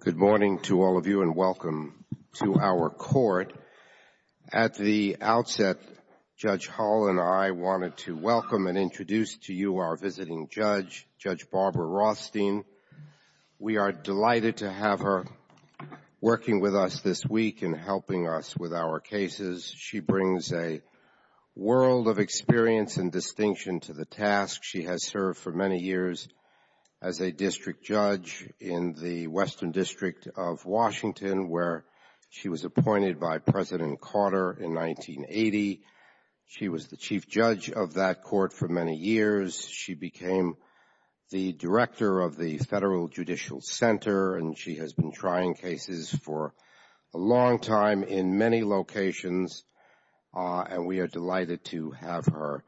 Good morning to all of you and welcome to our court. At the outset, Judge Hall and I wanted to welcome and introduce to you our visiting judge, Judge Barbara Rothstein. We are delighted to have her working with us this week and helping us with our cases. She brings a world of experience and distinction to the task. She has served for many years as a district judge in the Western District of Washington, where she was appointed by President Carter in 1980. She was the chief judge of that court for many years. She became the director of the Federal Judicial Center and she has been trying cases for a long time in many locations and we are delighted to have her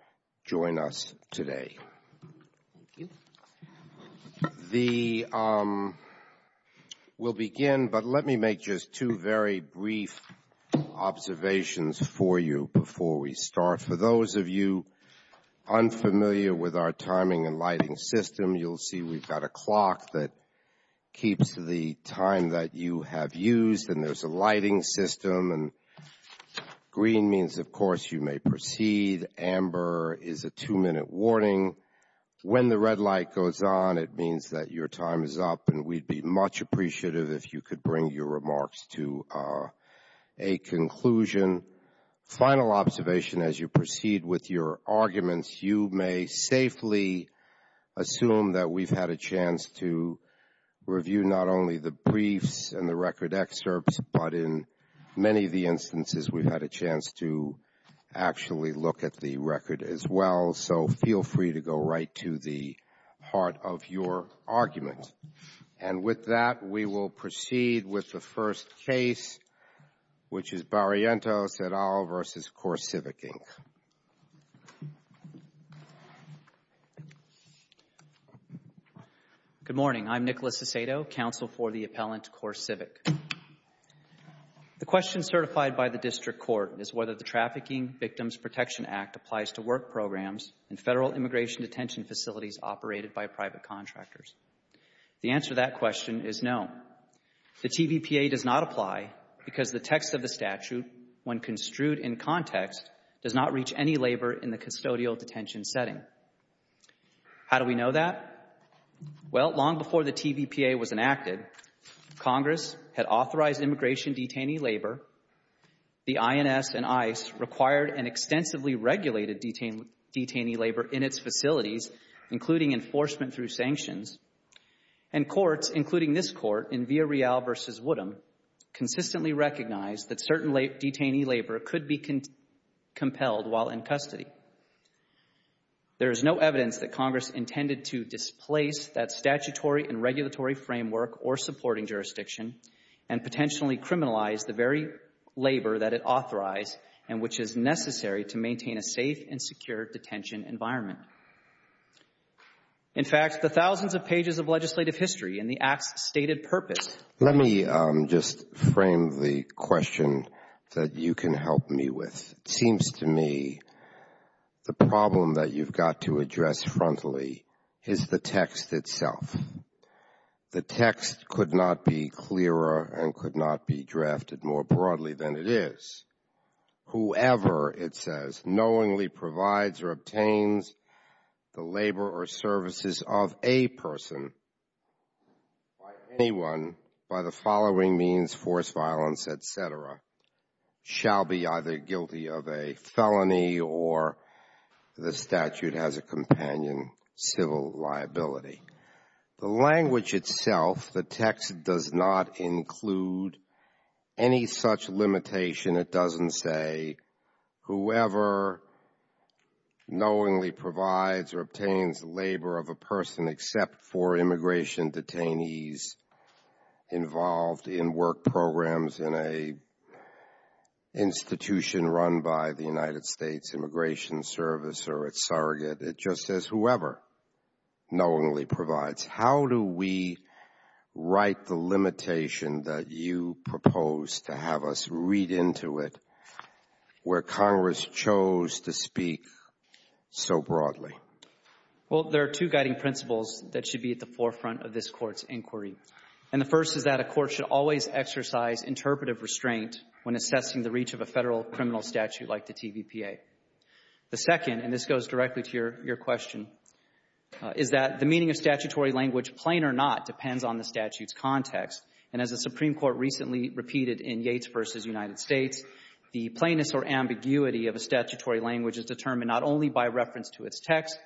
join us today. We'll begin, but let me make just two very brief observations for you before we start. For those of you unfamiliar with our timing and lighting system, you'll see we've got a clock that keeps the time that you have used and there's a lighting system. Green means, of course, you may proceed. Amber is a two-minute warning. When the red light goes on, it means that your time is up and we'd be much appreciative if you could bring your remarks to a conclusion. Final observation, as you proceed with your arguments, you may safely assume that we've had a chance to review not only the briefs and the record excerpts, but in many of the instances we've had a chance to actually look at the record as well. So feel free to go right to the heart of your argument. And with that, we will proceed with the first case, which is Barrientos et al. v. CoreCivic Good morning. I'm Nicholas Aceto, counsel for the appellant CoreCivic. The question certified by the district court is whether the Trafficking Victims Protection Act applies to work programs and federal immigration detention facilities operated by private contractors. The answer to that question is no. The TVPA does not apply because the text of the statute, when construed in context, does not reach any labor in the custodial detention setting. How do we know that? Well, long before the TVPA was enacted, Congress had authorized immigration detainee labor. The INS and ICE required and extensively regulated detainee labor in its facilities, including enforcement through sanctions. And courts, including this Barrientos et al. v. Woodham, consistently recognized that certain detainee labor could be compelled while in custody. There is no evidence that Congress intended to displace that statutory and regulatory framework or supporting jurisdiction and potentially criminalize the very labor that it authorized and which is necessary to maintain a safe and secure detention environment. In fact, the thousands of pages of legislative history and the act's stated purpose. Let me just frame the question that you can help me with. It seems to me the problem that you've got to address frontally is the text itself. The text could not be clearer and could not be drafted more broadly than it is. Whoever, it says, knowingly provides or By anyone, by the following means, force violence, et cetera, shall be either guilty of a felony or the statute has a companion civil liability. The language itself, the text does not include any such limitation. It doesn't say whoever knowingly provides or obtains labor of a person except for immigration detainees involved in work programs in a institution run by the United States Immigration Service or its surrogate. It just says whoever knowingly provides. How do we write the limitation that you propose to have us read into it where Congress chose to speak so broadly? Well, there are two guiding principles that should be at the forefront of this Court's inquiry. And the first is that a court should always exercise interpretive restraint when assessing the reach of a federal criminal statute like the TVPA. The second, and this goes directly to your question, is that the meaning of statutory language, plain or not, depends on the statute's context. And as the Supreme Court recently repeated in Yates v. United States, the plainness or ambiguity of a statutory language is determined not only by reference to its text,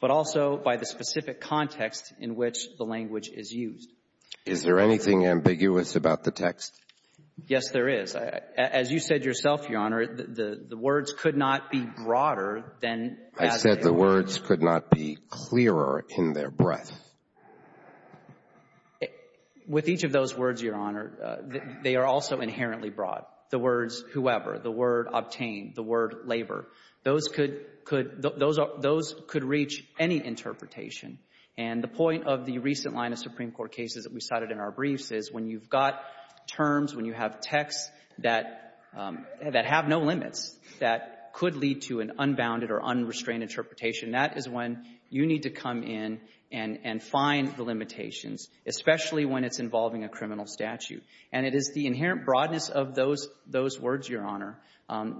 but also by the specific context in which the language is used. Is there anything ambiguous about the text? Yes, there is. As you said yourself, Your Honor, the words could not be broader than statutory. I said the words could not be clearer in their breadth. With each of those words, Your Honor, they are also inherently broad. The words whoever, the word obtain, the word labor, those could reach any interpretation. And the point of the recent line of Supreme Court cases that we cited in our briefs is when you've got terms, when you have texts that have no limits, that could lead to an unbounded or unrestrained interpretation, that is when you need to come in and find the limitations, especially when it's involving a criminal statute. And it is the inherent broadness of those words, Your Honor,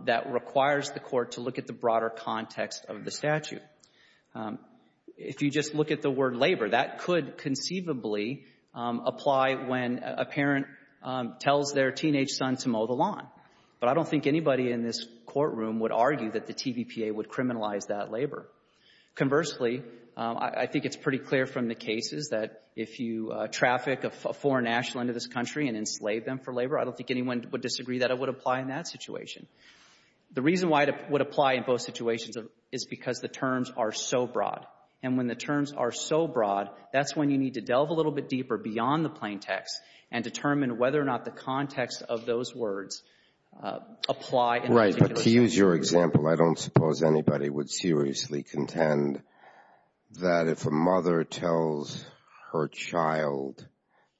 that requires the Court to look at the broader context of the statute. If you just look at the word labor, that could conceivably apply when a parent tells their teenage son to mow the lawn. But I don't think anybody in this courtroom would argue that the TVPA would criminalize that labor. Conversely, I think it's pretty clear from the cases that if you traffic a foreign national into this country and enslave them for labor, I don't think anyone would disagree that it would apply in that situation. The reason why it would apply in both situations is because the terms are so broad. And when the terms are so broad, that's when you need to delve a little bit deeper beyond the plain text and determine whether or not the context of those words apply in the particular situation. Right. But to use your example, I don't suppose anybody would seriously contend that if a mother tells her child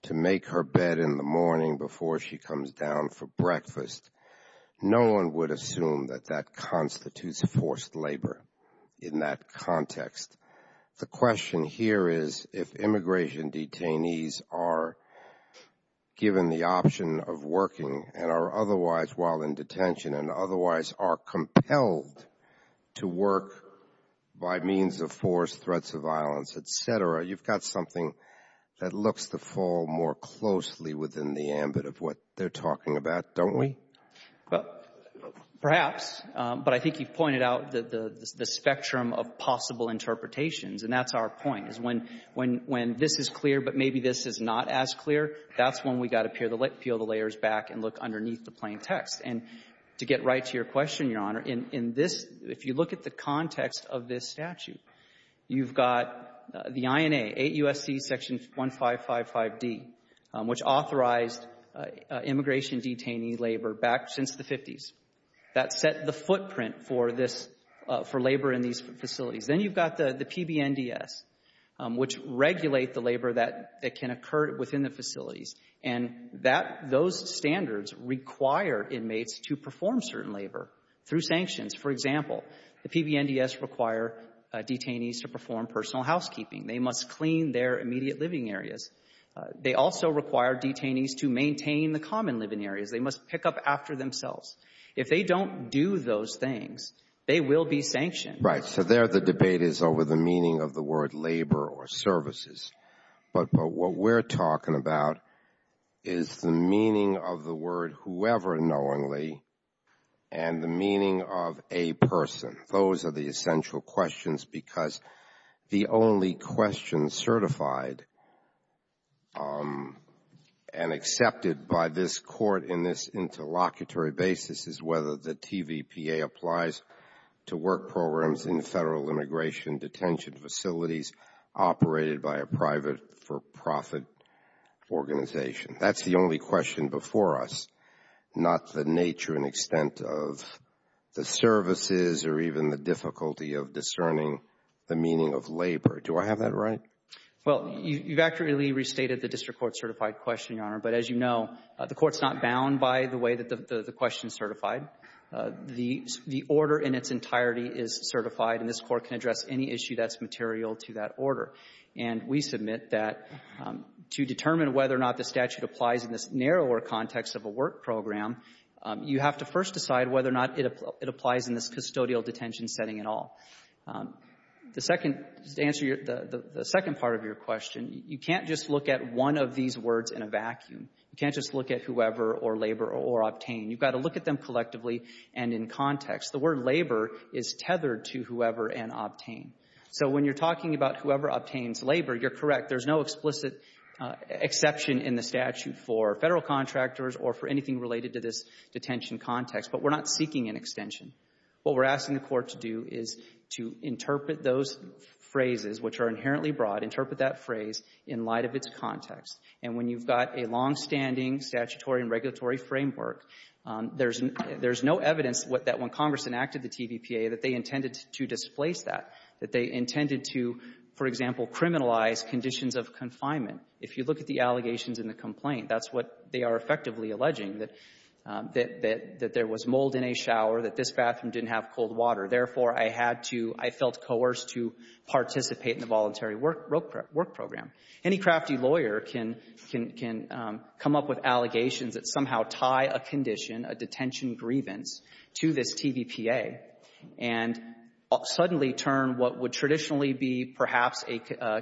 to make her bed in the morning before she comes down for breakfast, no one would assume that that constitutes forced labor in that context. The question here is if immigration detainees are given the option of working and are otherwise while in detention and otherwise are compelled to work by means of force, threats of violence, et cetera, you've got something that looks to fall more closely within the ambit of what they're talking about, don't we? Perhaps. But I think you've pointed out the spectrum of possible interpretations. And that's our point, is when this is clear but maybe this is not as clear, that's when we've got to peel the layers back and look underneath the plain text. And to get right to your question, Your Honor, in this, if you look at the context of this statute, you've got the INA, 8 U.S.C. Section 1555D, which authorized immigration detainee labor back since the 50s. That set the footprint for this, for labor in these facilities. Then you've got the PBNDS, which regulate the labor that can occur within the facilities. And that, those standards require inmates to perform certain labor through sanctions. For example, the PBNDS require detainees to perform personal housekeeping. They must clean their immediate living areas. They also require detainees to maintain the common living areas. They must pick up after themselves. If they don't do those things, they will be sanctioned. Right. So there the debate is over the meaning of the word labor or services. But what we're talking about is the meaning of the word whoever knowingly and the meaning of a person. Those are the essential questions because the only question certified and accepted by this court in this interlocutory basis is whether the TVPA applies to work programs in Federal immigration detention facilities operated by a private for-profit organization. That's the only question before us, not the nature and extent of the services or even the difficulty of discerning the meaning of labor. Do I have that right? Well, you've accurately restated the district court certified question, Your Honor. But as you know, the court's not bound by the way that the question is certified. The order in its entirety is certified, and this court can address any issue that's material to that order. And we submit that to determine whether or not the statute applies in this narrower context of a work program, you have to first decide whether or not it applies in this custodial detention setting at all. The second to answer your the second part of your question, you can't just look at one of these words in a vacuum. You can't just look at whoever or labor or obtain. You've got to look at them collectively and in context. The word labor is tethered to whoever and obtain. So when you're talking about whoever obtains labor, you're correct. There's no explicit exception in the statute for Federal contractors or for anything related to this detention context. But we're not seeking an extension. What we're asking the court to do is to interpret those phrases, which are inherently broad, interpret that phrase in light of its context. And when you've got a longstanding statutory and regulatory framework, there's no evidence that when Congress enacted the TVPA that they intended to displace that, that they intended to, for example, criminalize conditions of confinement. If you look at the allegations in the complaint, that's what they are effectively alleging, that there was mold in a shower, that this bathroom didn't have cold water. Therefore, I had to — I felt coerced to participate in the voluntary work program. Any crafty lawyer can — can — can come up with allegations that somehow tie a condition, a detention grievance, to this TVPA and suddenly turn what would traditionally be perhaps a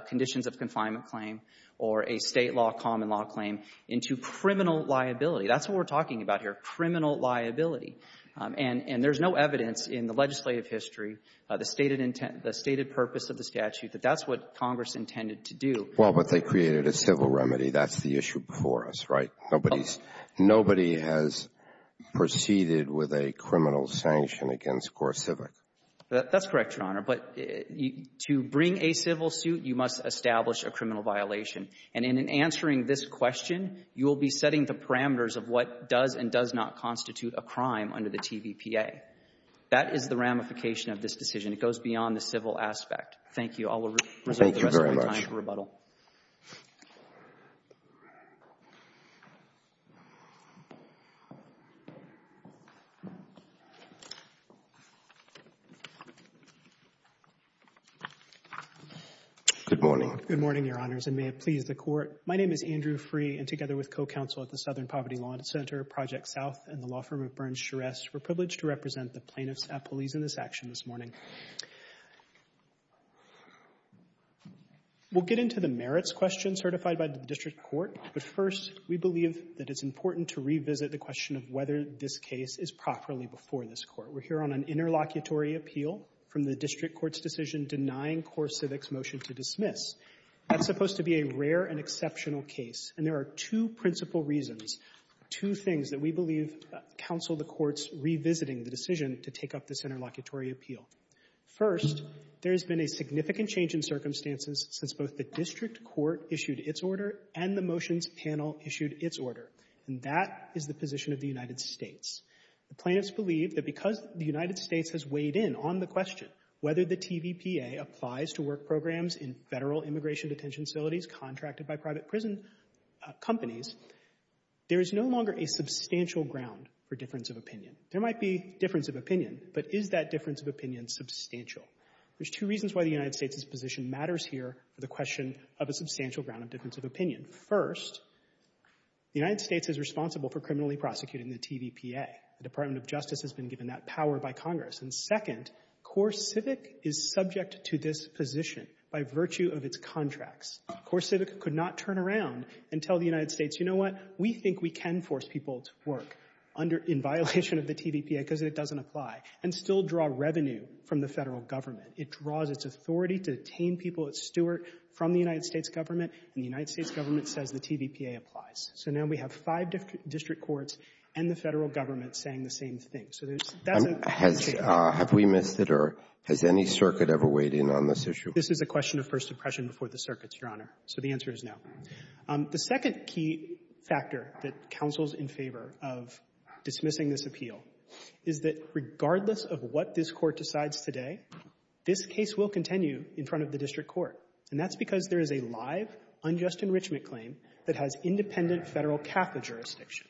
conditions-of-confinement claim or a State law, common law claim into criminal liability. That's what we're talking about here, criminal liability. And — and there's no evidence in the legislative history, the stated intent — the Well, but they created a civil remedy. That's the issue before us, right? Nobody's — nobody has proceeded with a criminal sanction against CoreCivic. That's correct, Your Honor. But to bring a civil suit, you must establish a criminal violation. And in answering this question, you will be setting the parameters of what does and does not constitute a crime under the TVPA. That is the ramification of this decision. It goes beyond the civil aspect. Thank you. I will reserve the rest of my time for rebuttal. Good morning. Good morning, Your Honors, and may it please the Court. My name is Andrew Freeh, and together with co-counsel at the Southern Poverty Law Center, Project South, and the law firm of Burns-Scherest, we're privileged to represent the plaintiffs at police in this action this morning. We'll get into the merits question certified by the district court, but first, we believe that it's important to revisit the question of whether this case is properly before this court. We're here on an interlocutory appeal from the district court's decision denying CoreCivic's motion to dismiss. That's supposed to be a rare and exceptional case, and there are two principal reasons, two things that we believe counsel the courts revisiting the decision to take up this interlocutory appeal. First, there has been a significant change in circumstances since both the district court issued its order and the motions panel issued its order, and that is the position of the United States. The plaintiffs believe that because the United States has weighed in on the question whether the TVPA applies to work programs in federal immigration detention facilities contracted by private prison companies, there is no longer a substantial ground for difference of opinion. There might be difference of opinion, but is that difference of opinion substantial? There's two reasons why the United States' position matters here for the question of a substantial ground of difference of opinion. First, the United States is responsible for criminally prosecuting the TVPA. The Department of Justice has been given that power by Congress. And second, CoreCivic is subject to this position by virtue of its contracts. CoreCivic could not turn around and tell the United States, you know what, we think we can force people to work under — in violation of the TVPA because it doesn't apply, and still draw revenue from the Federal Government. It draws its authority to detain people at Stewart from the United States government, and the United States government says the TVPA applies. So now we have five district courts and the Federal Government saying the same thing. So there's — that's a — Have we missed it, or has any circuit ever weighed in on this issue? This is a question of First Impression before the circuits, Your Honor. So the answer is no. The second key factor that counsels in favor of dismissing this appeal is that regardless of what this Court decides today, this case will continue in front of the district court. And that's because there is a live unjust enrichment claim that has independent Federal Catholic jurisdiction.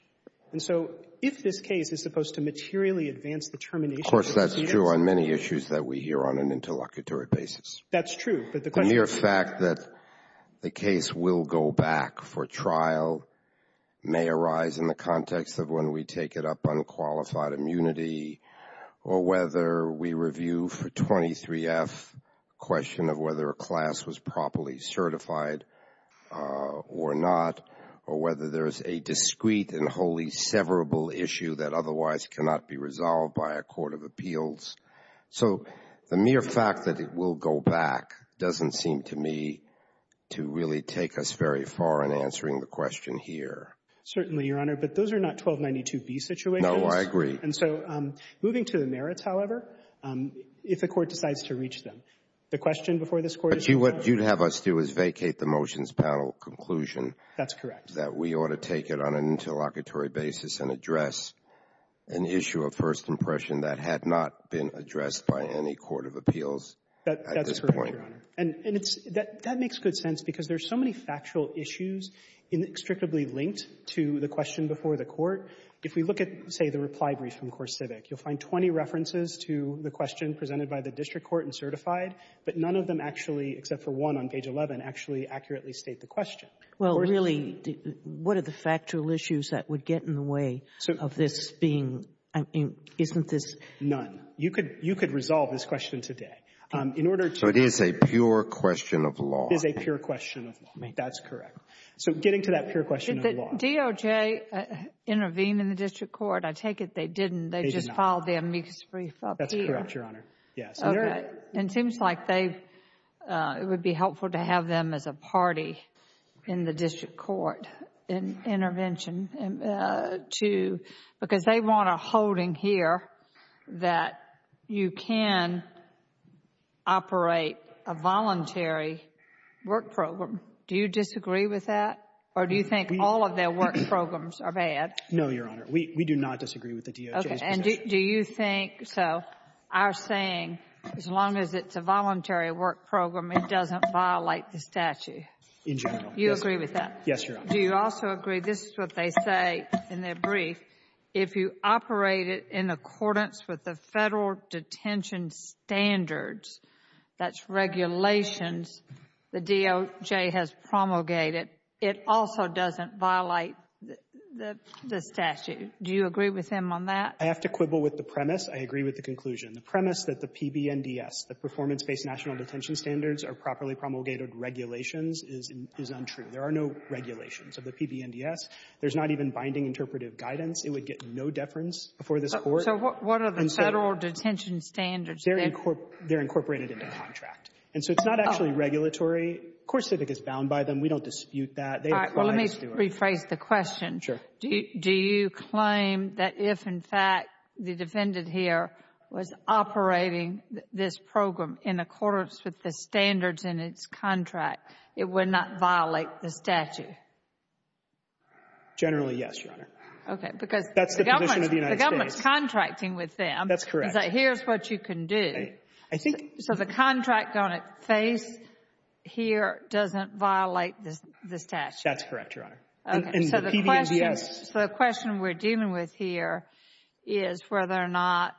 And so if this case is supposed to materially advance the termination of the TVPA — Of course, that's true on many issues that we hear on an interlocutory basis. That's true. The mere fact that the case will go back for trial may arise in the context of when we take it up on qualified immunity, or whether we review for 23F the question of whether a class was properly certified or not, or whether there's a discrete and wholly severable issue that otherwise cannot be resolved by a court of appeals. So the mere fact that it will go back doesn't seem to me to really take us very far in answering the question here. Certainly, Your Honor. But those are not 1292B situations. No, I agree. And so moving to the merits, however, if the Court decides to reach them, the question before this Court is — But what you'd have us do is vacate the motions panel conclusion — That's correct. — that we ought to take it on an interlocutory basis and address an issue of First Amendment address by any court of appeals at this point. That's correct, Your Honor. And it's — that makes good sense, because there's so many factual issues inextricably linked to the question before the Court. If we look at, say, the reply brief from CoreCivic, you'll find 20 references to the question presented by the district court and certified, but none of them actually, except for one on page 11, actually accurately state the question. Well, really, what are the factual issues that would get in the way of this being — isn't this — None. You could — you could resolve this question today. In order to — So it is a pure question of law. It is a pure question of law. That's correct. So getting to that pure question of law — Did the DOJ intervene in the district court? I take it they didn't. They just filed their misbrief up here. That's correct, Your Honor. Yes. Okay. And it seems like they — it would be helpful to have them as a party in the district court in intervention to — because they want a holding here that you can operate a voluntary work program. Do you disagree with that, or do you think all of their work programs are bad? No, Your Honor. We do not disagree with the DOJ's position. Okay. And do you think — so our saying, as long as it's a voluntary work program, it doesn't violate the statute. In general. You agree with that? Yes, Your Honor. Do you also agree — this is what they say in their brief. If you operate it in accordance with the federal detention standards, that's regulations, the DOJ has promulgated, it also doesn't violate the statute. Do you agree with him on that? I have to quibble with the premise. I agree with the conclusion. The premise that the PBNDS, the Performance-Based National Detention Standards, are properly promulgated regulations is untrue. There are no regulations of the PBNDS. There's not even binding interpretive guidance. It would get no deference before this Court. So what are the federal detention standards? They're incorporated into contract. And so it's not actually regulatory. Of course, CIVIC is bound by them. We don't dispute that. They apply it to us. All right. Well, let me rephrase the question. Sure. Do you claim that if, in fact, the defendant here was operating this program in accordance with the standards in its contract, it would not violate the statute? Generally, yes, Your Honor. Okay. Because the government's contracting with them. That's correct. It's like, here's what you can do. I think — So the contract on its face here doesn't violate the statute. That's correct, Your Honor. And the PBNDS — So the question we're dealing with here is whether or not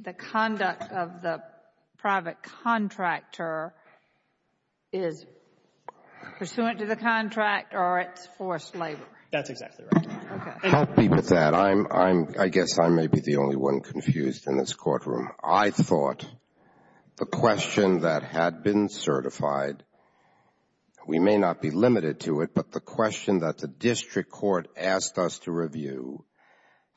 the conduct of the private contractor is pursuant to the contract or it's forced labor. That's exactly right. Okay. Help me with that. I'm — I guess I may be the only one confused in this courtroom. I thought the question that had been certified — we may not be limited to it, but the question that the district court asked us to review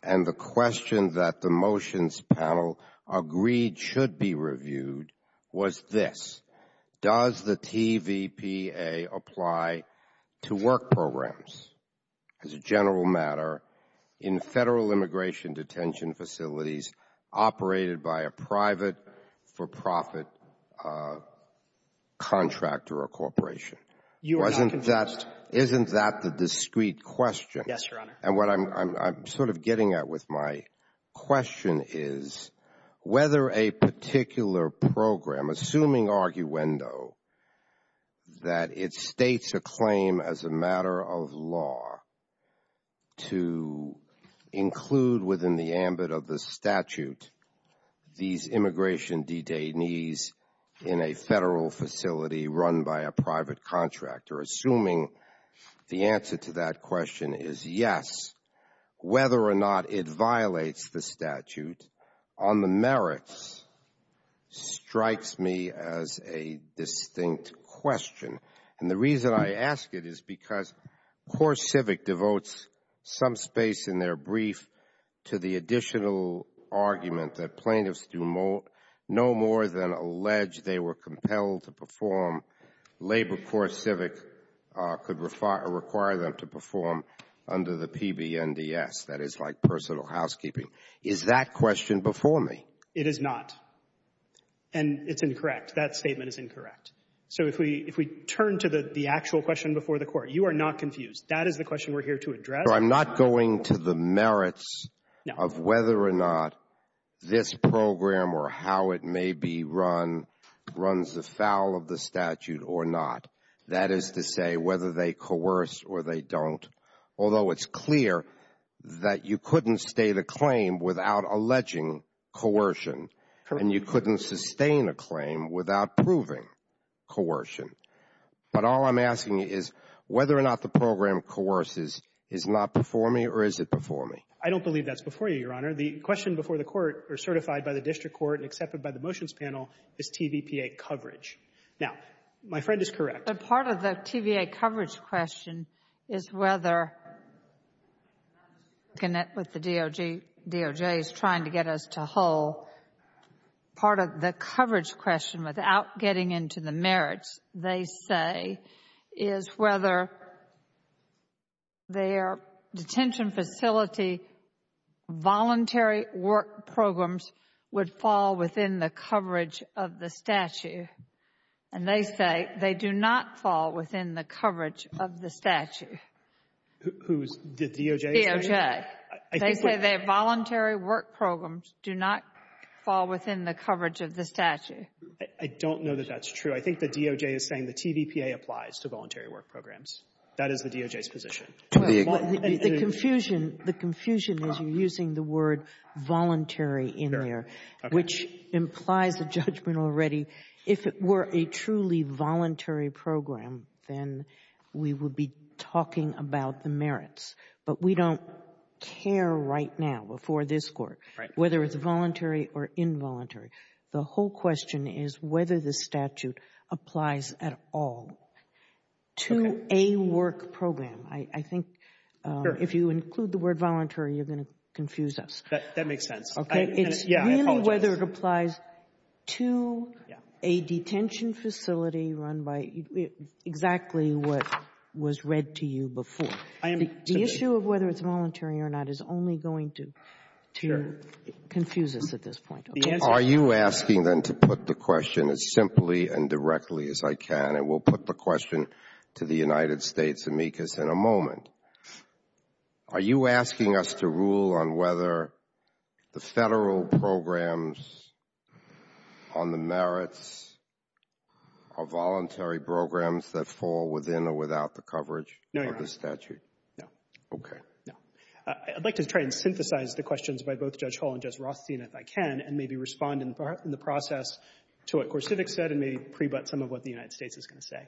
and the question that the motions panel agreed should be reviewed was this. Does the TVPA apply to work programs, as a general matter, in Federal immigration detention facilities operated by a private, for-profit contractor or corporation? You are not confused. Isn't that the discrete question? Yes, Your Honor. And what I'm sort of getting at with my question is whether a particular program, assuming arguendo, that it states a claim as a matter of law to include within the ambit of the statute these immigration detainees in a Federal facility run by a private contractor, assuming the answer to that question is yes, whether or not it violates the statute on the merits, strikes me as a distinct question. And the reason I ask it is because CoreCivic devotes some space in their brief to the additional argument that plaintiffs do no more than allege they were compelled to perform, Labor CoreCivic could require them to perform under the PBNDES, that is like personal housekeeping. Is that question before me? It is not. And it's incorrect. That statement is incorrect. So if we turn to the actual question before the court, you are not confused. That is the question we're here to address. So I'm not going to the merits of whether or not this program or how it may be run runs afoul of the statute or not. That is to say whether they coerce or they don't, although it's clear that you couldn't state a claim without alleging coercion, and you couldn't sustain a claim without proving coercion. But all I'm asking you is whether or not the program coerces is not before me or is it before me? I don't believe that's before you, Your Honor. The question before the court or certified by the district court and accepted by the Now, my friend is correct. But part of the TVA coverage question is whether the DOJ is trying to get us to whole. Part of the coverage question without getting into the merits, they say, is whether their detention facility voluntary work programs would fall within the coverage of the statute. And they say they do not fall within the coverage of the statute. Who's the DOJ? DOJ. They say their voluntary work programs do not fall within the coverage of the statute. I don't know that that's true. I think the DOJ is saying the TVPA applies to voluntary work programs. That is the DOJ's position. The confusion is you're using the word voluntary in there, which implies the judge has made a judgment already. If it were a truly voluntary program, then we would be talking about the merits. But we don't care right now before this Court whether it's voluntary or involuntary. The whole question is whether the statute applies at all to a work program. I think if you include the word voluntary, you're going to confuse us. That makes sense. I apologize. I don't know whether it applies to a detention facility run by exactly what was read to you before. The issue of whether it's voluntary or not is only going to confuse us at this point. Are you asking them to put the question as simply and directly as I can, and we'll put the question to the United States amicus in a moment. Are you asking us to rule on whether the Federal programs on the merits are voluntary programs that fall within or without the coverage of the statute? No, Your Honor. No. Okay. No. I'd like to try and synthesize the questions by both Judge Hall and Judge Rothstein if I can, and maybe respond in the process to what Gorsivik said and maybe prebut some of what the United States is going to say.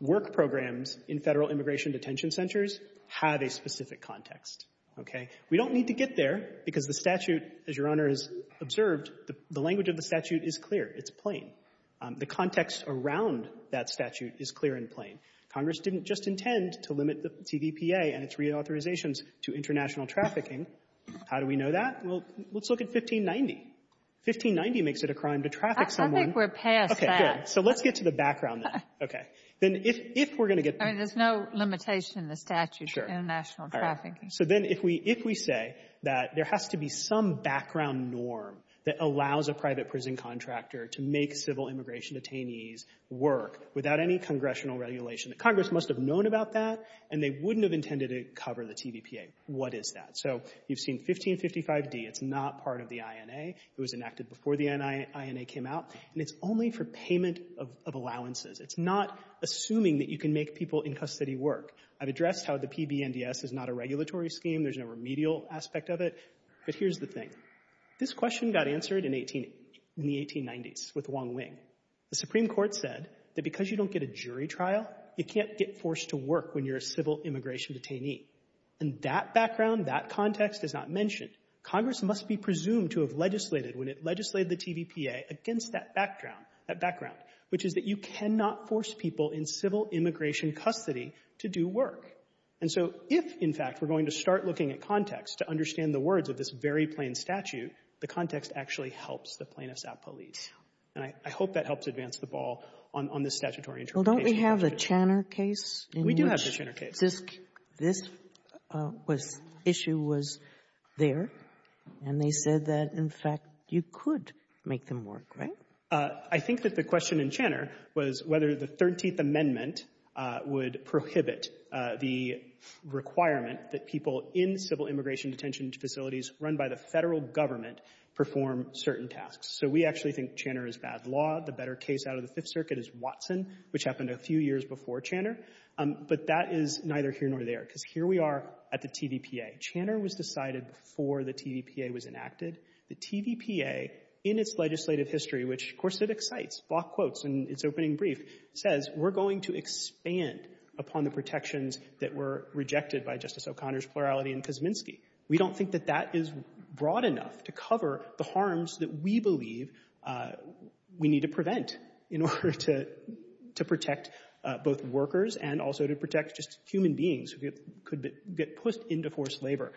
Work programs in Federal immigration detention centers have a specific context. Okay? We don't need to get there because the statute, as Your Honor has observed, the language of the statute is clear. It's plain. The context around that statute is clear and plain. Congress didn't just intend to limit the TVPA and its reauthorizations to international trafficking. How do we know that? Well, let's look at 1590. 1590 makes it a crime to traffic someone. I think we're past that. Okay, good. So let's get to the background then. Okay. Then if we're going to get there. I mean, there's no limitation in the statute for international trafficking. Sure. All right. So then if we say that there has to be some background norm that allows a private prison contractor to make civil immigration detainees work without any congressional regulation, the Congress must have known about that and they wouldn't have intended to cover the TVPA. What is that? So you've seen 1555d. It's not part of the INA. It was enacted before the INA came out. And it's only for payment of allowances. It's not assuming that you can make people in custody work. I've addressed how the PBNDS is not a regulatory scheme. There's no remedial aspect of it. But here's the thing. This question got answered in the 1890s with Wong Wing. The Supreme Court said that because you don't get a jury trial, you can't get forced to work when you're a civil immigration detainee. And that background, that context is not mentioned. Congress must be presumed to have legislated when it legislated the TVPA against that background, which is that you cannot force people in civil immigration custody to do work. And so if, in fact, we're going to start looking at context to understand the words of this very plain statute, the context actually helps the plaintiffs out police. And I hope that helps advance the ball on this statutory interpretation. Well, don't we have the Channer case? We do have the Channer case. This issue was there, and they said that, in fact, you could make them work, right? I think that the question in Channer was whether the 13th Amendment would prohibit the requirement that people in civil immigration detention facilities run by the Federal Government perform certain tasks. So we actually think Channer is bad law. The better case out of the Fifth Circuit is Watson, which happened a few years before Channer. But that is neither here nor there, because here we are at the TVPA. Channer was decided before the TVPA was enacted. The TVPA, in its legislative history, which, of course, it excites, block quotes in its opening brief, says we're going to expand upon the protections that were rejected by Justice O'Connor's plurality in Kosminski. We don't think that that is broad enough to cover the harms that we believe we need to prevent in order to protect both workers and also to protect just human beings who could get pushed into forced labor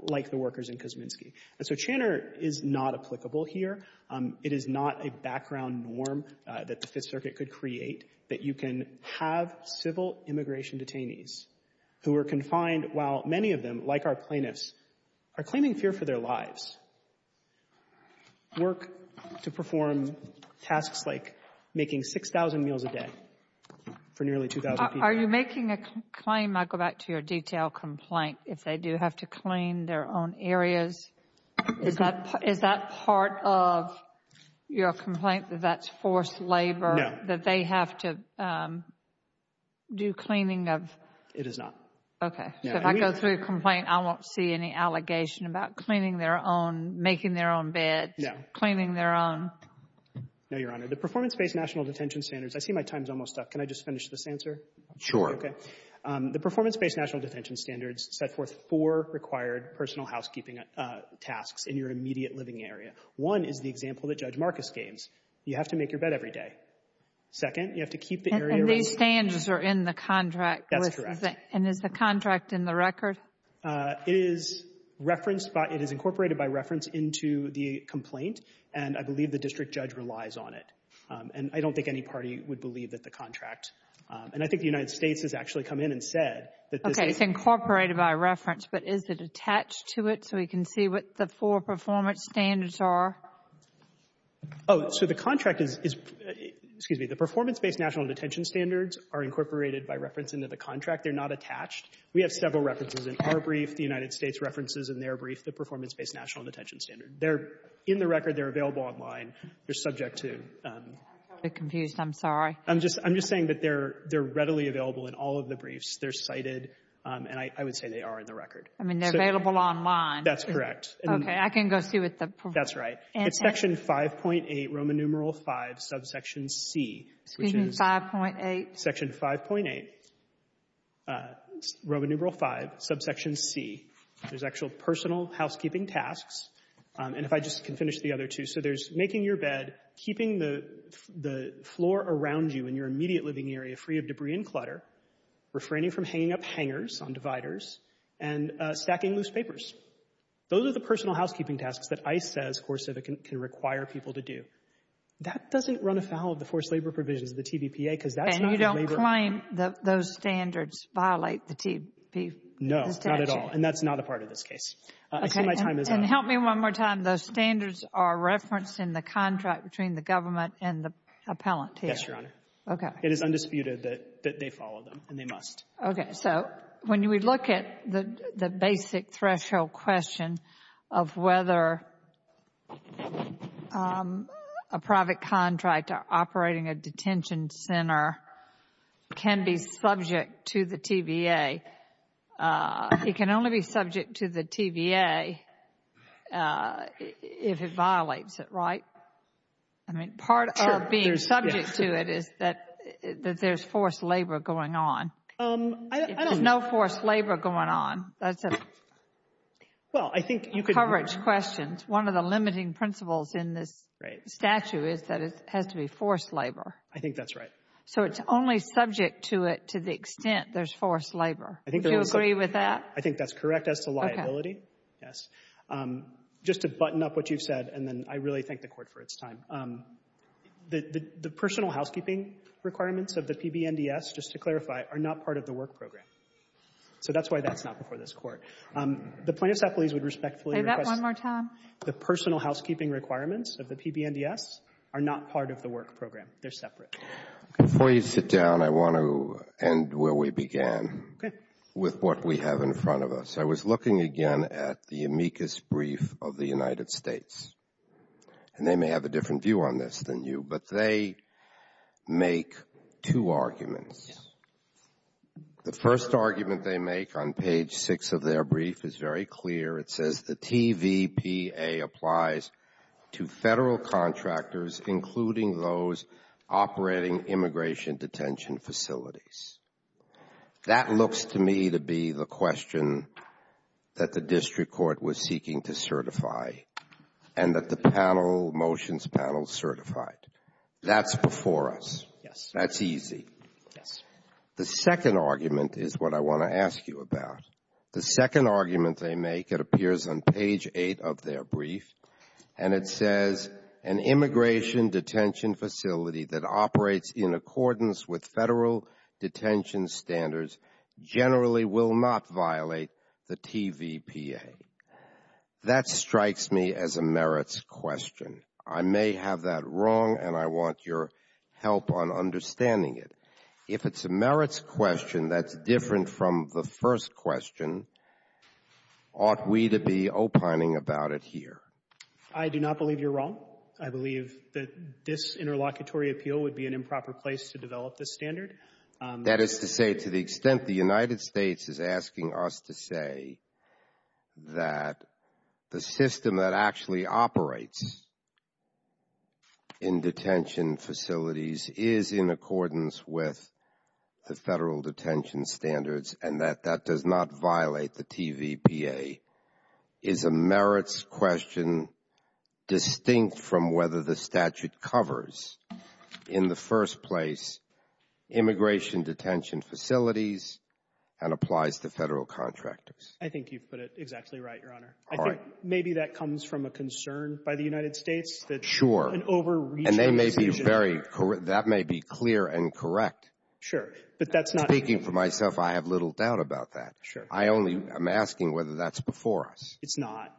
like the workers in Kosminski. And so Channer is not applicable here. It is not a background norm that the Fifth Circuit could create that you can have civil immigration detainees who are confined while many of them, like our plaintiffs, are claiming fear for their lives, work to perform tasks like making 6,000 meals a day for nearly 2,000 people. Are you making a claim, I go back to your detail complaint, if they do have to clean their own areas, is that part of your complaint that that's forced labor? No. That they have to do cleaning of? It is not. Okay. If I go through a complaint, I won't see any allegation about cleaning their own, making their own beds. No. Cleaning their own. No, Your Honor. The performance-based national detention standards, I see my time is almost up. Can I just finish this answer? Sure. Okay. The performance-based national detention standards set forth four required personal housekeeping tasks in your immediate living area. One is the example that Judge Marcus gave. You have to make your bed every day. Second, you have to keep the area. And these standards are in the contract. That's correct. And is the contract in the record? It is referenced by — it is incorporated by reference into the complaint, and I believe the district judge relies on it. And I don't think any party would believe that the contract — and I think the United States has actually come in and said that this — Okay. It's incorporated by reference, but is it attached to it so we can see what the four performance standards are? Oh, so the contract is — excuse me. The performance-based national detention standards are incorporated by reference into the contract. They're not attached. We have several references in our brief, the United States references in their brief, the performance-based national detention standard. They're in the record. They're available online. They're subject to — I'm a little bit confused. I'm sorry. I'm just saying that they're readily available in all of the briefs. They're cited, and I would say they are in the record. I mean, they're available online. That's correct. Okay. I can go see what the — That's right. It's Section 5.8, Roman numeral V, subsection C, which is — Excuse me. 5.8. Section 5.8, Roman numeral V, subsection C. There's actual personal housekeeping tasks. And if I just can finish the other two. So there's making your bed, keeping the floor around you in your immediate living area free of debris and clutter, refraining from hanging up hangers on dividers, and stacking loose papers. Those are the personal housekeeping tasks that ICE says CoreCivic can require people to do. That doesn't run afoul of the forced labor provisions of the TVPA, because that's not the labor — And you don't claim that those standards violate the TVPA? No, not at all. And that's not a part of this case. Okay. I think my time is up. And help me one more time. Those standards are referenced in the contract between the government and the appellant here. Yes, Your Honor. Okay. It is undisputed that they follow them, and they must. Okay. So when we look at the basic threshold question of whether a private contractor operating a detention center can be subject to the TVA, it can only be subject to the TVA if it violates it, right? I mean, part of being subject to it is that there's forced labor going on. There's no forced labor going on. That's a coverage question. One of the limiting principles in this statute is that it has to be forced labor. I think that's right. So it's only subject to it to the extent there's forced labor. Would you agree with that? I think that's correct as to liability, yes. Just to button up what you've said, and then I really thank the Court for its time. The personal housekeeping requirements of the PBNDS, just to clarify, are not part of the work program. So that's why that's not before this Court. The plaintiffs' appellees would respectfully request the personal housekeeping requirements of the PBNDS are not part of the work program. They're separate. Before you sit down, I want to end where we began with what we have in front of us. I was looking again at the amicus brief of the United States, and they may have a different view on this than you, but they make two arguments. The first argument they make on page six of their brief is very clear. It says the TVPA applies to federal contractors, including those operating immigration detention facilities. That looks to me to be the question that the district court was seeking to certify and that the motions panel certified. That's before us. Yes. That's easy. Yes. The second argument is what I want to ask you about. The second argument they make, it appears on page eight of their brief, and it says an immigration detention facility that operates in accordance with federal detention standards generally will not violate the TVPA. That strikes me as a merits question. I may have that wrong, and I want your help on understanding it. If it's a merits question that's different from the first question, ought we to be opining about it here? I do not believe you're wrong. I believe that this interlocutory appeal would be an improper place to develop this standard. That is to say to the extent the United States is asking us to say that the system that actually operates in detention facilities is in accordance with the federal detention standards and that that does not violate the TVPA is a merits question distinct from whether the statute covers in the first place immigration detention facilities and applies to federal contractors. I think you've put it exactly right, Your Honor. All right. I think maybe that comes from a concern by the United States that an overreach of the decision there. Sure. And they may be very correct. That may be clear and correct. Sure. But that's not the case. Speaking for myself, I have little doubt about that. Sure. I only am asking whether that's before us. It's not.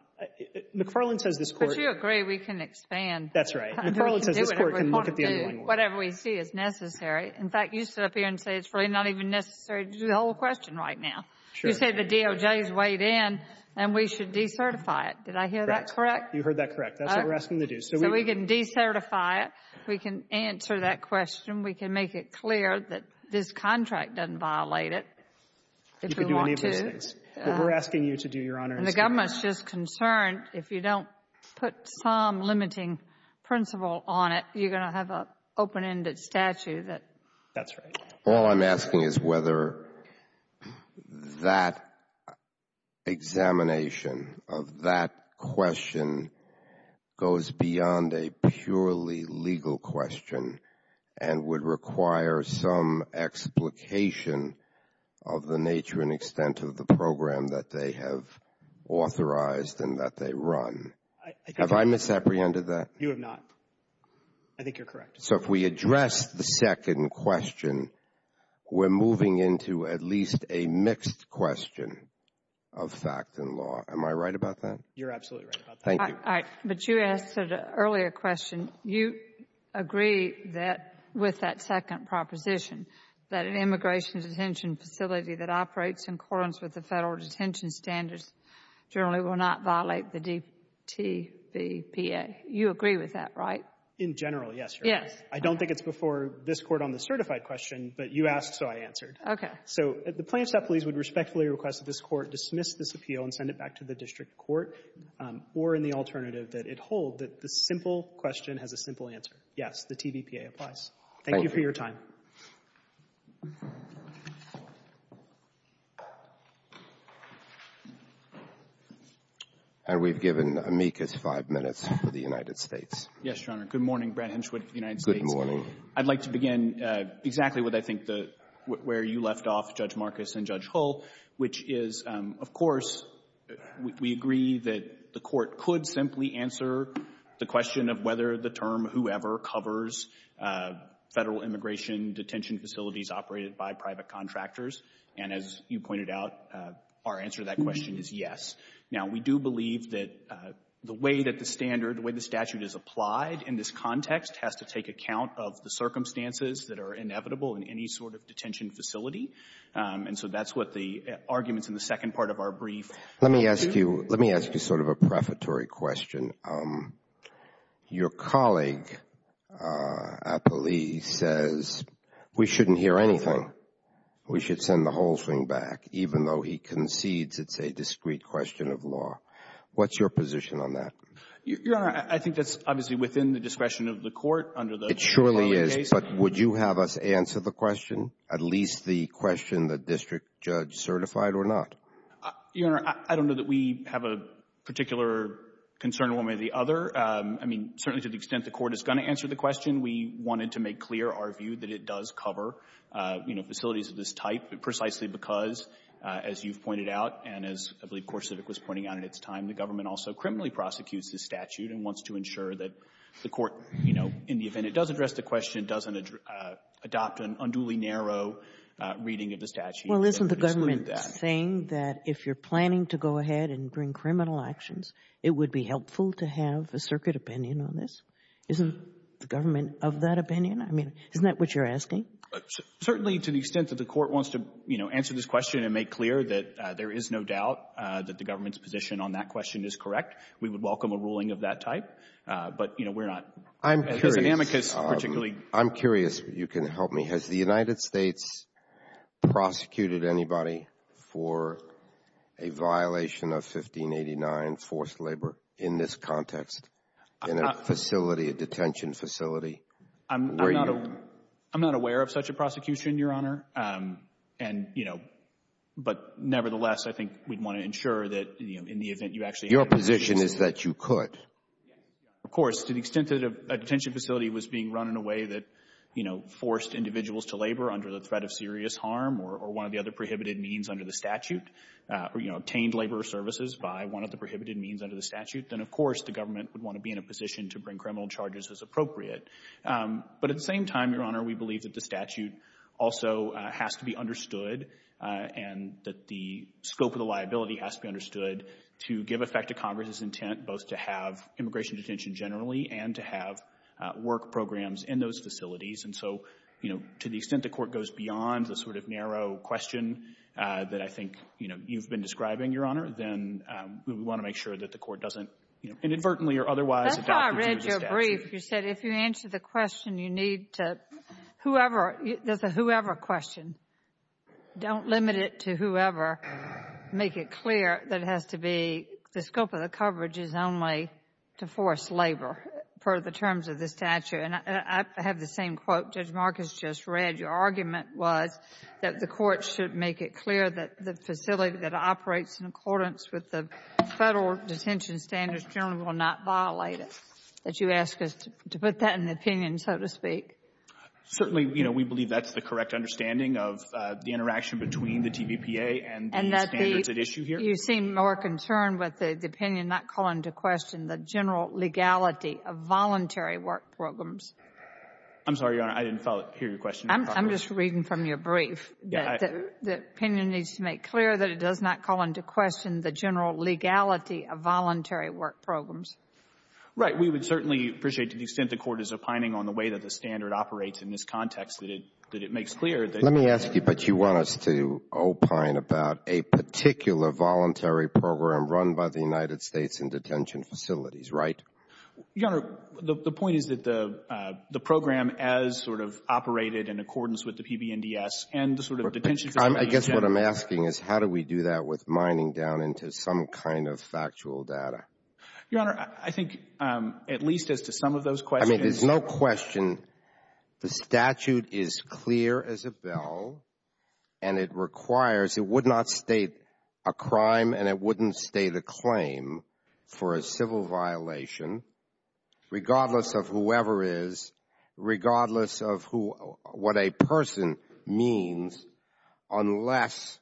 McFarland says this Court — But you agree we can expand. That's right. McFarland says this Court can look at the other one. Whatever we see is necessary. In fact, you sit up here and say it's really not even necessary to do the whole question right now. Sure. You say the DOJ is weighed in, and we should decertify it. Did I hear that correct? You heard that correct. That's what we're asking to do. So we can decertify it. We can answer that question. We can make it clear that this contract doesn't violate it if we want to. You can do any of those things. But we're asking you to do your honors. And the government is just concerned if you don't put some limiting principle on it, you're going to have an open-ended statute. That's right. All I'm asking is whether that examination of that question goes beyond a purely legal question and would require some explication of the nature and extent of the program that they have authorized and that they run. Have I misapprehended that? You have not. I think you're correct. So if we address the second question, we're moving into at least a mixed question of fact and law. You're absolutely right about that. Thank you. All right. But you asked an earlier question. You agree that with that second proposition that an immigration detention facility that operates in accordance with the Federal detention standards generally will not violate the DTVPA. You agree with that, right? In general, yes, Your Honor. Yes. I don't think it's before this Court on the certified question, but you asked, so I answered. Okay. So the Planned Safety Police would respectfully request that this Court dismiss this appeal and send it back to the district court, or in the alternative that it hold, that the simple question has a simple answer. Yes, the TVPA applies. Thank you for your time. Thank you. And we've given amicus five minutes for the United States. Yes, Your Honor. Good morning. Brad Henschwood, United States. Good morning. I'd like to begin exactly what I think the — where you left off, Judge Marcus and Judge Hull, which is, of course, we agree that the Court could simply answer the question of whether the term whoever covers Federal immigration detention facilities operated by private contractors. And as you pointed out, our answer to that question is yes. Now, we do believe that the way that the standard, the way the statute is applied in this context has to take account of the circumstances that are inevitable in any sort of detention facility. And so that's what the arguments in the second part of our brief do. Let me ask you — let me ask you sort of a prefatory question. Your colleague at the Lee says we shouldn't hear anything. We should send the whole thing back, even though he concedes it's a discrete question of law. What's your position on that? Your Honor, I think that's obviously within the discretion of the Court under the — It surely is. But would you have us answer the question, at least the question the district judge certified or not? Your Honor, I don't know that we have a particular concern one way or the other. I mean, certainly to the extent the Court is going to answer the question, we wanted to make clear our view that it does cover, you know, facilities of this type, precisely because, as you've pointed out, and as I believe CoreCivic was pointing out in its time, the government also criminally prosecutes the statute and wants to ensure that the Court, you know, in the event it does address the question, doesn't adopt an unduly narrow reading of the statute. Well, isn't the government saying that if you're planning to go ahead and bring criminal actions, it would be helpful to have a circuit opinion on this? Isn't the government of that opinion? I mean, isn't that what you're asking? Certainly to the extent that the Court wants to, you know, answer this question and make clear that there is no doubt that the government's position on that question is correct, we would welcome a ruling of that type, but, you know, we're not as an amicus particularly. I'm curious. You can help me. Has the United States prosecuted anybody for a violation of 1589 forced labor in this context in a facility, a detention facility? I'm not aware of such a prosecution, Your Honor, and, you know, but nevertheless, I think we'd want to ensure that, you know, in the event you actually have a position Your position is that you could. Of course. To the extent that a detention facility was being run in a way that, you know, forced individuals to labor under the threat of serious harm or one of the other prohibited means under the statute, you know, obtained labor services by one of the prohibited means under the statute, then, of course, the government would want to be in a position to bring criminal charges as appropriate. But at the same time, Your Honor, we believe that the statute also has to be understood and that the scope of the liability has to be understood to give effect to Congress's intent both to have immigration detention generally and to have work programs in those facilities. And so, you know, to the extent the Court goes beyond the sort of narrow question that I think, you know, you've been describing, Your Honor, then we want to make sure that the Court doesn't, you know, inadvertently or otherwise adopt the statute. That's how I read your brief. You said if you answer the question, you need to – whoever – there's a whoever question. Don't limit it to whoever. Make it clear that it has to be – the scope of the coverage is only to force labor per the terms of the statute. And I have the same quote Judge Marcus just read. Your argument was that the Court should make it clear that the facility that operates in accordance with the Federal detention standards generally will not violate it. That you ask us to put that in the opinion, so to speak. Certainly, you know, we believe that's the correct understanding of the interaction between the TVPA and the standards at issue here. And that the – you seem more concerned with the opinion not calling into question the general legality of voluntary work programs. I'm sorry, Your Honor. I didn't hear your question. I'm just reading from your brief. The opinion needs to make clear that it does not call into question the general legality of voluntary work programs. Right. We would certainly appreciate to the extent the Court is opining on the way that the standard operates in this context, that it makes clear that — Let me ask you, but you want us to opine about a particular voluntary program run by the United States in detention facilities, right? Your Honor, the point is that the program as sort of operated in accordance with the PB&DS and the sort of detention facilities — I guess what I'm asking is how do we do that with mining down into some kind of factual data? Your Honor, I think at least as to some of those questions — I mean, there's no question the statute is clear as a bell, and it requires — it would not state a crime and it wouldn't state a claim for a civil violation regardless of whoever is, regardless of what a person means, unless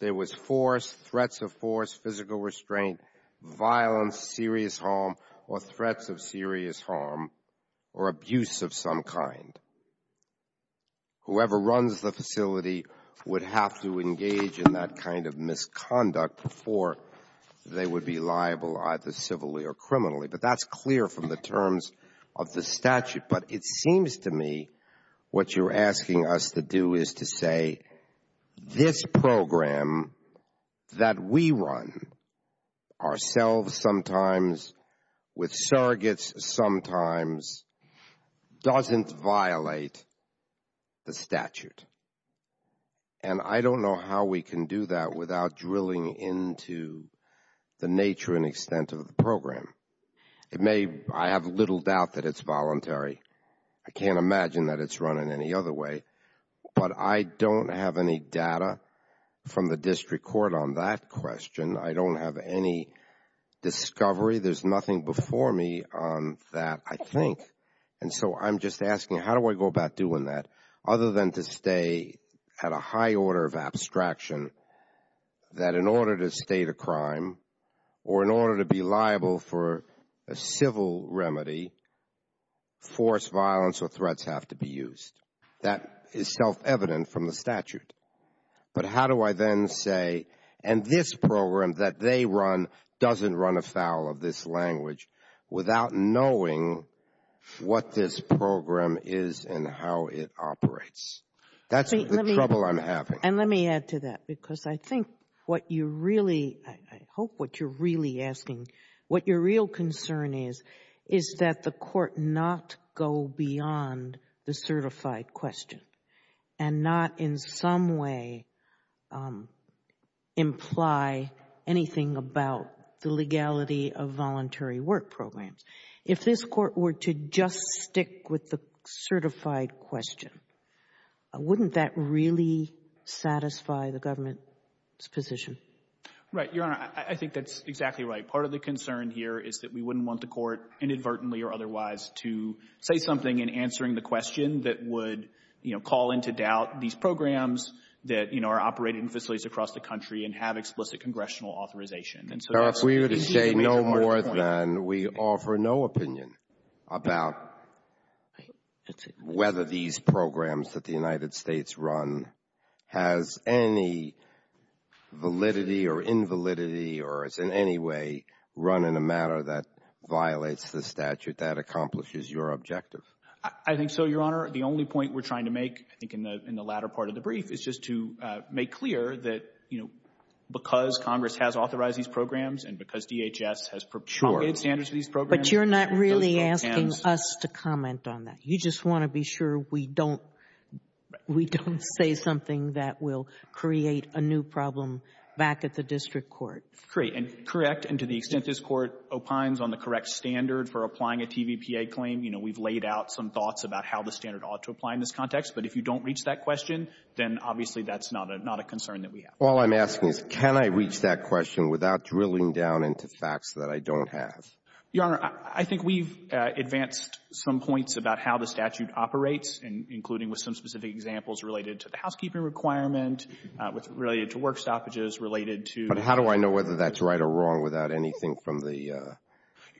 there was force, threats of force, physical restraint, violence, serious harm, or threats of serious harm or abuse of some kind. Whoever runs the facility would have to engage in that kind of misconduct before they would be liable either civilly or criminally. But that's clear from the terms of the statute. But it seems to me what you're asking us to do is to say this program that we run, ourselves sometimes, with surrogates sometimes, doesn't violate the statute. And I don't know how we can do that without drilling into the nature and extent of the program. It may — I have little doubt that it's voluntary. I can't imagine that it's run in any other way. But I don't have any data from the district court on that question. I don't have any discovery. There's nothing before me on that, I think. And so I'm just asking, how do I go about doing that other than to stay at a high order of abstraction that in order to state a crime or in order to be liable for a civil remedy, forced violence or threats have to be used? That is self-evident from the statute. But how do I then say, and this program that they run doesn't run afoul of this language without knowing what this program is and how it operates? That's the trouble I'm having. And let me add to that, because I think what you really — I hope what you're really asking, what your real concern is, is that the Court not go beyond the certified question and not in some way imply anything about the legality of voluntary work programs. If this Court were to just stick with the certified question, wouldn't that really satisfy the government's position? Right, Your Honor. I think that's exactly right. Part of the concern here is that we wouldn't want the Court inadvertently or otherwise to say something in answering the question that would, you know, call into doubt these programs that, you know, are operated in facilities across the country and have explicit congressional authorization. If we were to say no more than we offer no opinion about whether these programs that the United States run has any validity or invalidity or is in any way run in a manner that violates the statute, that accomplishes your objective? I think so, Your Honor. The only point we're trying to make, I think, in the latter part of the brief, is just to make clear that, you know, because Congress has authorized these programs and because DHS has promulgated standards for these programs, it does not count. But you're not really asking us to comment on that. You just want to be sure we don't say something that will create a new problem back at the district court. Correct. And to the extent this Court opines on the correct standard for applying a TVPA claim, you know, we've laid out some thoughts about how the standard ought to apply in this Obviously, that's not a concern that we have. All I'm asking is, can I reach that question without drilling down into facts that I don't have? Your Honor, I think we've advanced some points about how the statute operates, including with some specific examples related to the housekeeping requirement, related to work stoppages, related to the ---- But how do I know whether that's right or wrong without anything from the ----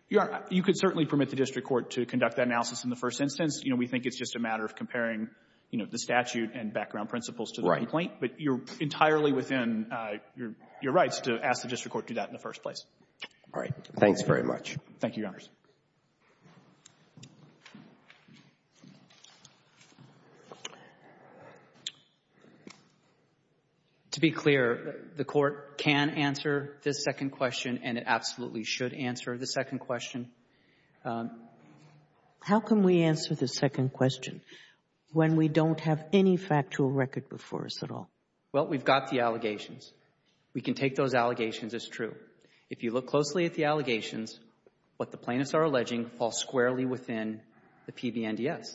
Your Honor, you could certainly permit the district court to conduct that analysis in the first instance. You know, we think it's just a matter of comparing, you know, the statute and background principles to the complaint. Right. But you're entirely within your rights to ask the district court to do that in the first place. All right. Thanks very much. Thank you, Your Honors. To be clear, the Court can answer this second question, and it absolutely should answer the second question. How can we answer the second question when we don't have any factual record before us at all? Well, we've got the allegations. We can take those allegations as true. If you look closely at the allegations, what the plaintiffs are alleging fall squarely within the PBNDS.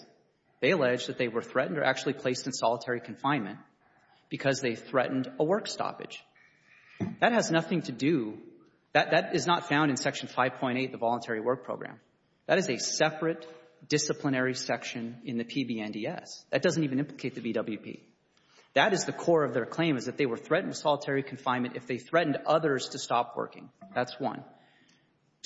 They allege that they were threatened or actually placed in solitary confinement because they threatened a work stoppage. That has nothing to do ---- That is not found in Section 5.8 of the Voluntary Work Program. That is a separate disciplinary section in the PBNDS. That doesn't even implicate the VWP. That is the core of their claim, is that they were threatened solitary confinement if they threatened others to stop working. That's one.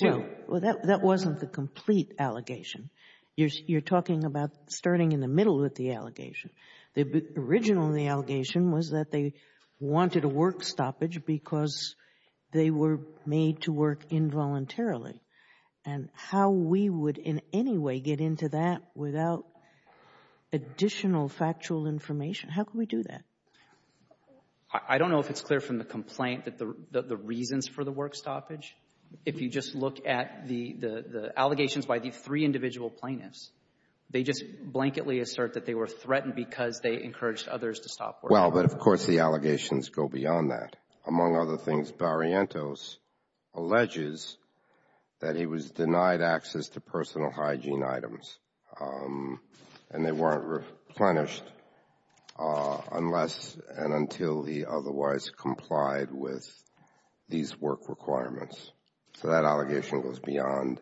Two ---- Well, that wasn't the complete allegation. You're talking about starting in the middle with the allegation. The original of the allegation was that they wanted a work stoppage because they were made to work involuntarily. And how we would in any way get into that without additional factual information ---- How could we do that? I don't know if it's clear from the complaint that the reasons for the work stoppage ---- If you just look at the allegations by the three individual plaintiffs, they just blanketly assert that they were threatened because they encouraged others to stop working. Well, but of course the allegations go beyond that. Among other things, Barrientos alleges that he was denied access to personal hygiene items and they weren't replenished unless and until he otherwise complied with these work requirements. So that allegation goes beyond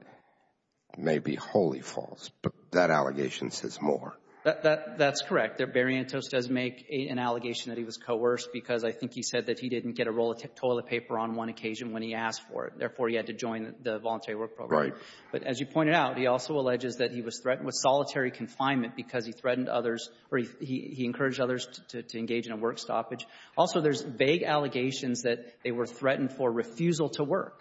maybe wholly false. But that allegation says more. That's correct. Barrientos does make an allegation that he was coerced because I think he said that he didn't get a roll of toilet paper on one occasion when he asked for it. Therefore, he had to join the voluntary work program. Right. But as you pointed out, he also alleges that he was threatened with solitary confinement because he threatened others or he encouraged others to engage in a work stoppage. Also, there's vague allegations that they were threatened for refusal to work.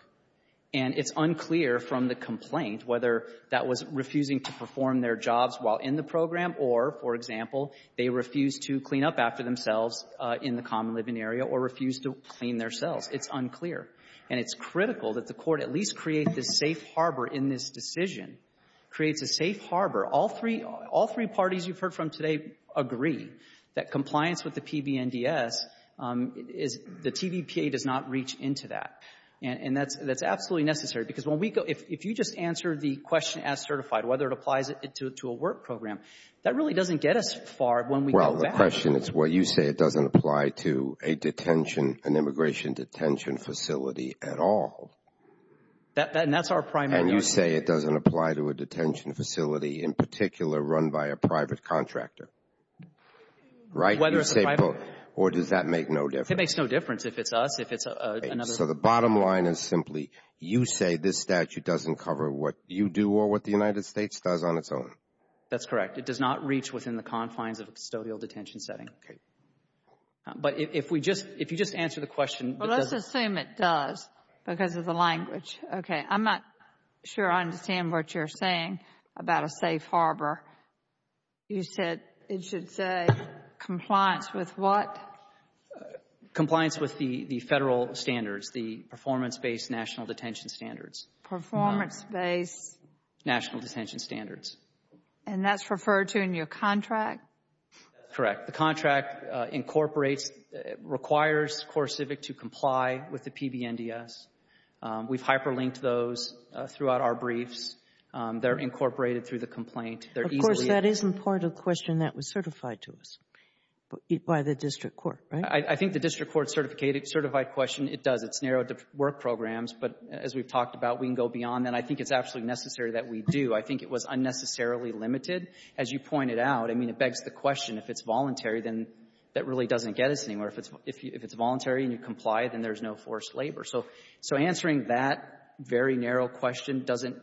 And it's unclear from the complaint whether that was refusing to perform their jobs while in the program or, for example, they refused to clean up after themselves in the common living area or refused to clean their cells. It's unclear. And it's critical that the Court at least create this safe harbor in this decision, creates a safe harbor. All three parties you've heard from today agree that compliance with the PBNDS is the TVPA does not reach into that. And that's absolutely necessary because when we go — if you just answer the question as certified, whether it applies to a work program, that really doesn't get us far when we go back. My question is, well, you say it doesn't apply to a detention, an immigration detention facility at all. And that's our primary argument. And you say it doesn't apply to a detention facility in particular run by a private contractor. Right? Whether it's a private — Or does that make no difference? It makes no difference if it's us, if it's another — So the bottom line is simply you say this statute doesn't cover what you do or what the United States does on its own. That's correct. It does not reach within the confines of a custodial detention setting. Okay. But if we just — if you just answer the question — Well, let's assume it does because of the language. Okay. I'm not sure I understand what you're saying about a safe harbor. You said it should say compliance with what? Compliance with the Federal standards, the performance-based national detention standards. Performance-based — National detention standards. And that's referred to in your contract? Correct. The contract incorporates — requires CoreCivic to comply with the PBNDS. We've hyperlinked those throughout our briefs. They're incorporated through the complaint. They're easily — Of course, that isn't part of the question that was certified to us by the district court, right? I think the district court-certified question, it does. It's narrowed to work programs. But as we've talked about, we can go beyond that. I think it's absolutely necessary that we do. I think it was unnecessarily limited. As you pointed out, I mean, it begs the question, if it's voluntary, then that really doesn't get us anywhere. If it's voluntary and you comply, then there's no forced labor. So answering that very narrow question doesn't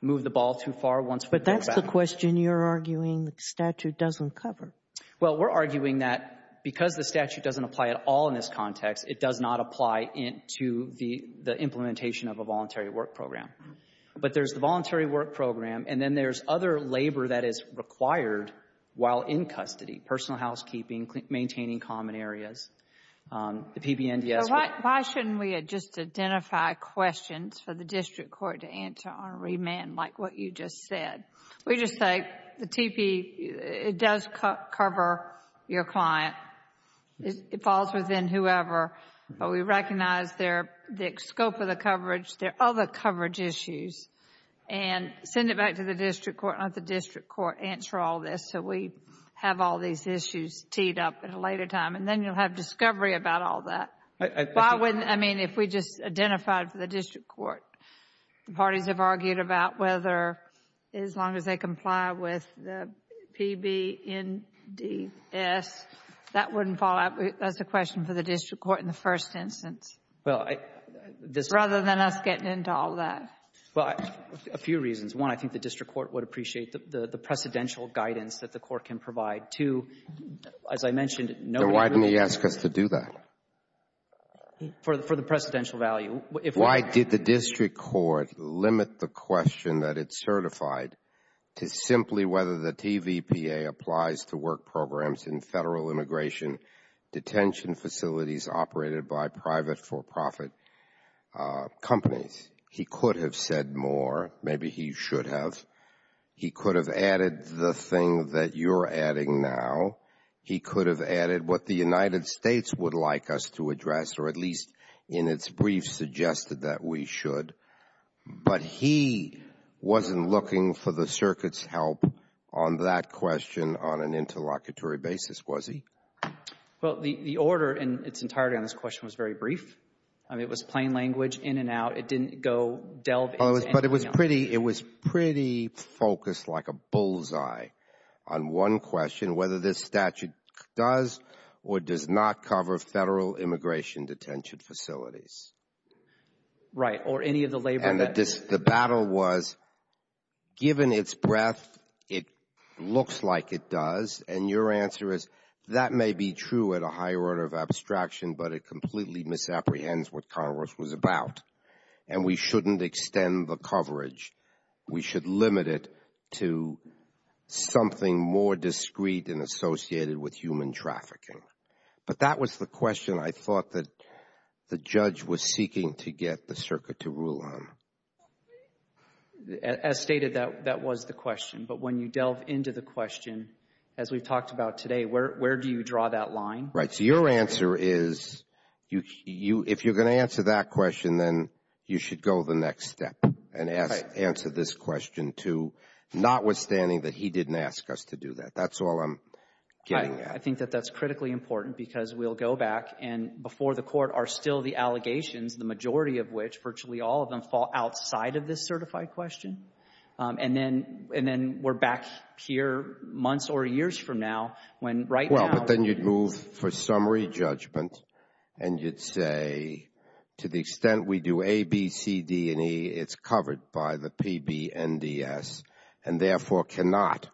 move the ball too far once we go back. But that's the question you're arguing the statute doesn't cover. Well, we're arguing that because the statute doesn't apply at all in this context, it does not apply into the implementation of a voluntary work program. But there's the voluntary work program, and then there's other labor that is required while in custody, personal housekeeping, maintaining common areas. The PBNDS would — So why shouldn't we just identify questions for the district court to answer on remand like what you just said? We just say the TP, it does cover your client. It falls within whoever. But we recognize their — the scope of the coverage. There are other coverage issues. And send it back to the district court. Let the district court answer all this so we have all these issues teed up at a later time. And then you'll have discovery about all that. Why wouldn't — I mean, if we just identified for the district court, the parties have argued about whether as long as they comply with the PBNDS, that wouldn't fall out. That's a question for the district court in the first instance. Rather than us getting into all that. Well, a few reasons. One, I think the district court would appreciate the precedential guidance that the court can provide. Two, as I mentioned — Then why didn't he ask us to do that? For the precedential value. Why did the district court limit the question that it certified to simply whether the TVPA applies to work programs in Federal immigration detention facilities operated by private for-profit companies? He could have said more. Maybe he should have. He could have added the thing that you're adding now. He could have added what the United States would like us to address, or at least in its brief suggested that we should. But he wasn't looking for the circuit's help on that question on an interlocutory basis, was he? Well, the order in its entirety on this question was very brief. I mean, it was plain language, in and out. It didn't go delve into anything else. But it was pretty — it was pretty focused like a bullseye on one question, whether this statute does or does not cover Federal immigration detention facilities. Right. Or any of the labor that — And the battle was, given its breadth, it looks like it does. And your answer is, that may be true at a higher order of abstraction, but it completely misapprehends what Congress was about. And we shouldn't extend the coverage. We should limit it to something more discreet and associated with human trafficking. But that was the question I thought that the judge was seeking to get the circuit to rule on. As stated, that was the question. But when you delve into the question, as we've talked about today, where do you draw that line? Right. So your answer is, if you're going to answer that question, then you should go the next step and answer this question, too, notwithstanding that he didn't ask us to do that. That's all I'm getting at. I think that that's critically important because we'll go back, and before the Court are still the allegations, the majority of which, virtually all of them, fall outside of this certified question. And then we're back here months or years from now when right now— Well, but then you'd move for summary judgment and you'd say, to the extent we do A, B, C, D, and E, it's covered by the PBNDS and therefore cannot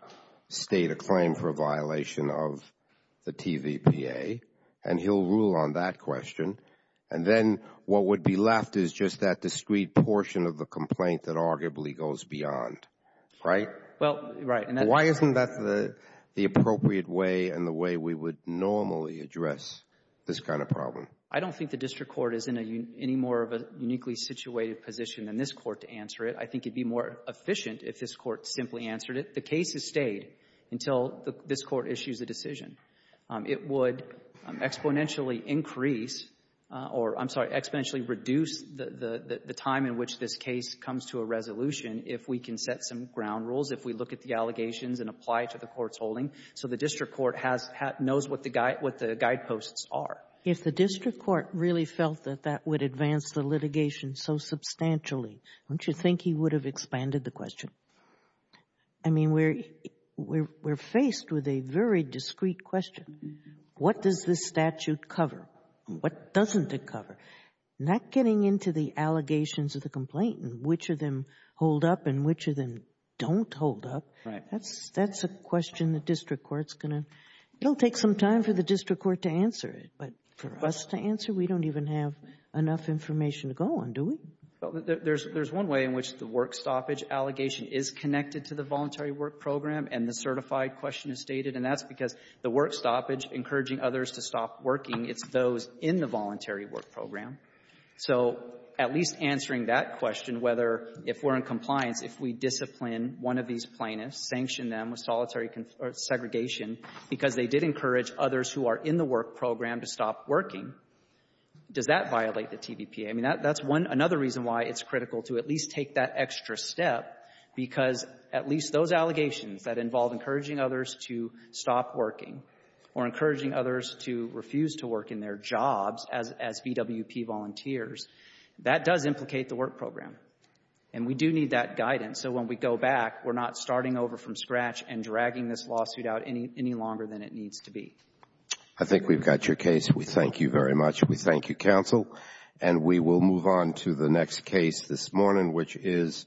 state a claim for violation of the TVPA. And he'll rule on that question. And then what would be left is just that discreet portion of the complaint that arguably goes beyond, right? Well, right. Why isn't that the appropriate way and the way we would normally address this kind of problem? I don't think the District Court is in any more of a uniquely situated position than this Court to answer it. I think it would be more efficient if this Court simply answered it. The case has stayed until this Court issues a decision. It would exponentially increase or, I'm sorry, exponentially reduce the time in which this case comes to a resolution if we can set some ground rules, if we look at the allegations and apply it to the Court's holding so the District Court knows what the guideposts are. If the District Court really felt that that would advance the litigation so substantially, don't you think he would have expanded the question? I mean, we're faced with a very discreet question. What does this statute cover? What doesn't it cover? Not getting into the allegations of the complainant, which of them hold up and which of them don't hold up, that's a question the District Court is going to take some time for the District Court to answer it. But for us to answer, we don't even have enough information to go on, do we? Well, there's one way in which the work stoppage allegation is connected to the voluntary work program and the certified question is stated, and that's because the work stoppage encouraging others to stop working, it's those in the voluntary work program. So at least answering that question, whether if we're in compliance, if we discipline one of these plaintiffs, sanction them with solitary segregation because they did encourage others who are in the work program to stop working, does that violate the TVPA? I mean, that's one other reason why it's critical to at least take that extra step, because at least those allegations that involve encouraging others to stop working or encouraging others to refuse to work in their jobs as VWP volunteers, that does implicate the work program. And we do need that guidance so when we go back, we're not starting over from scratch and dragging this lawsuit out any longer than it needs to be. I think we've got your case. We thank you very much. We thank you, counsel. And we will move on to the next case this morning, which is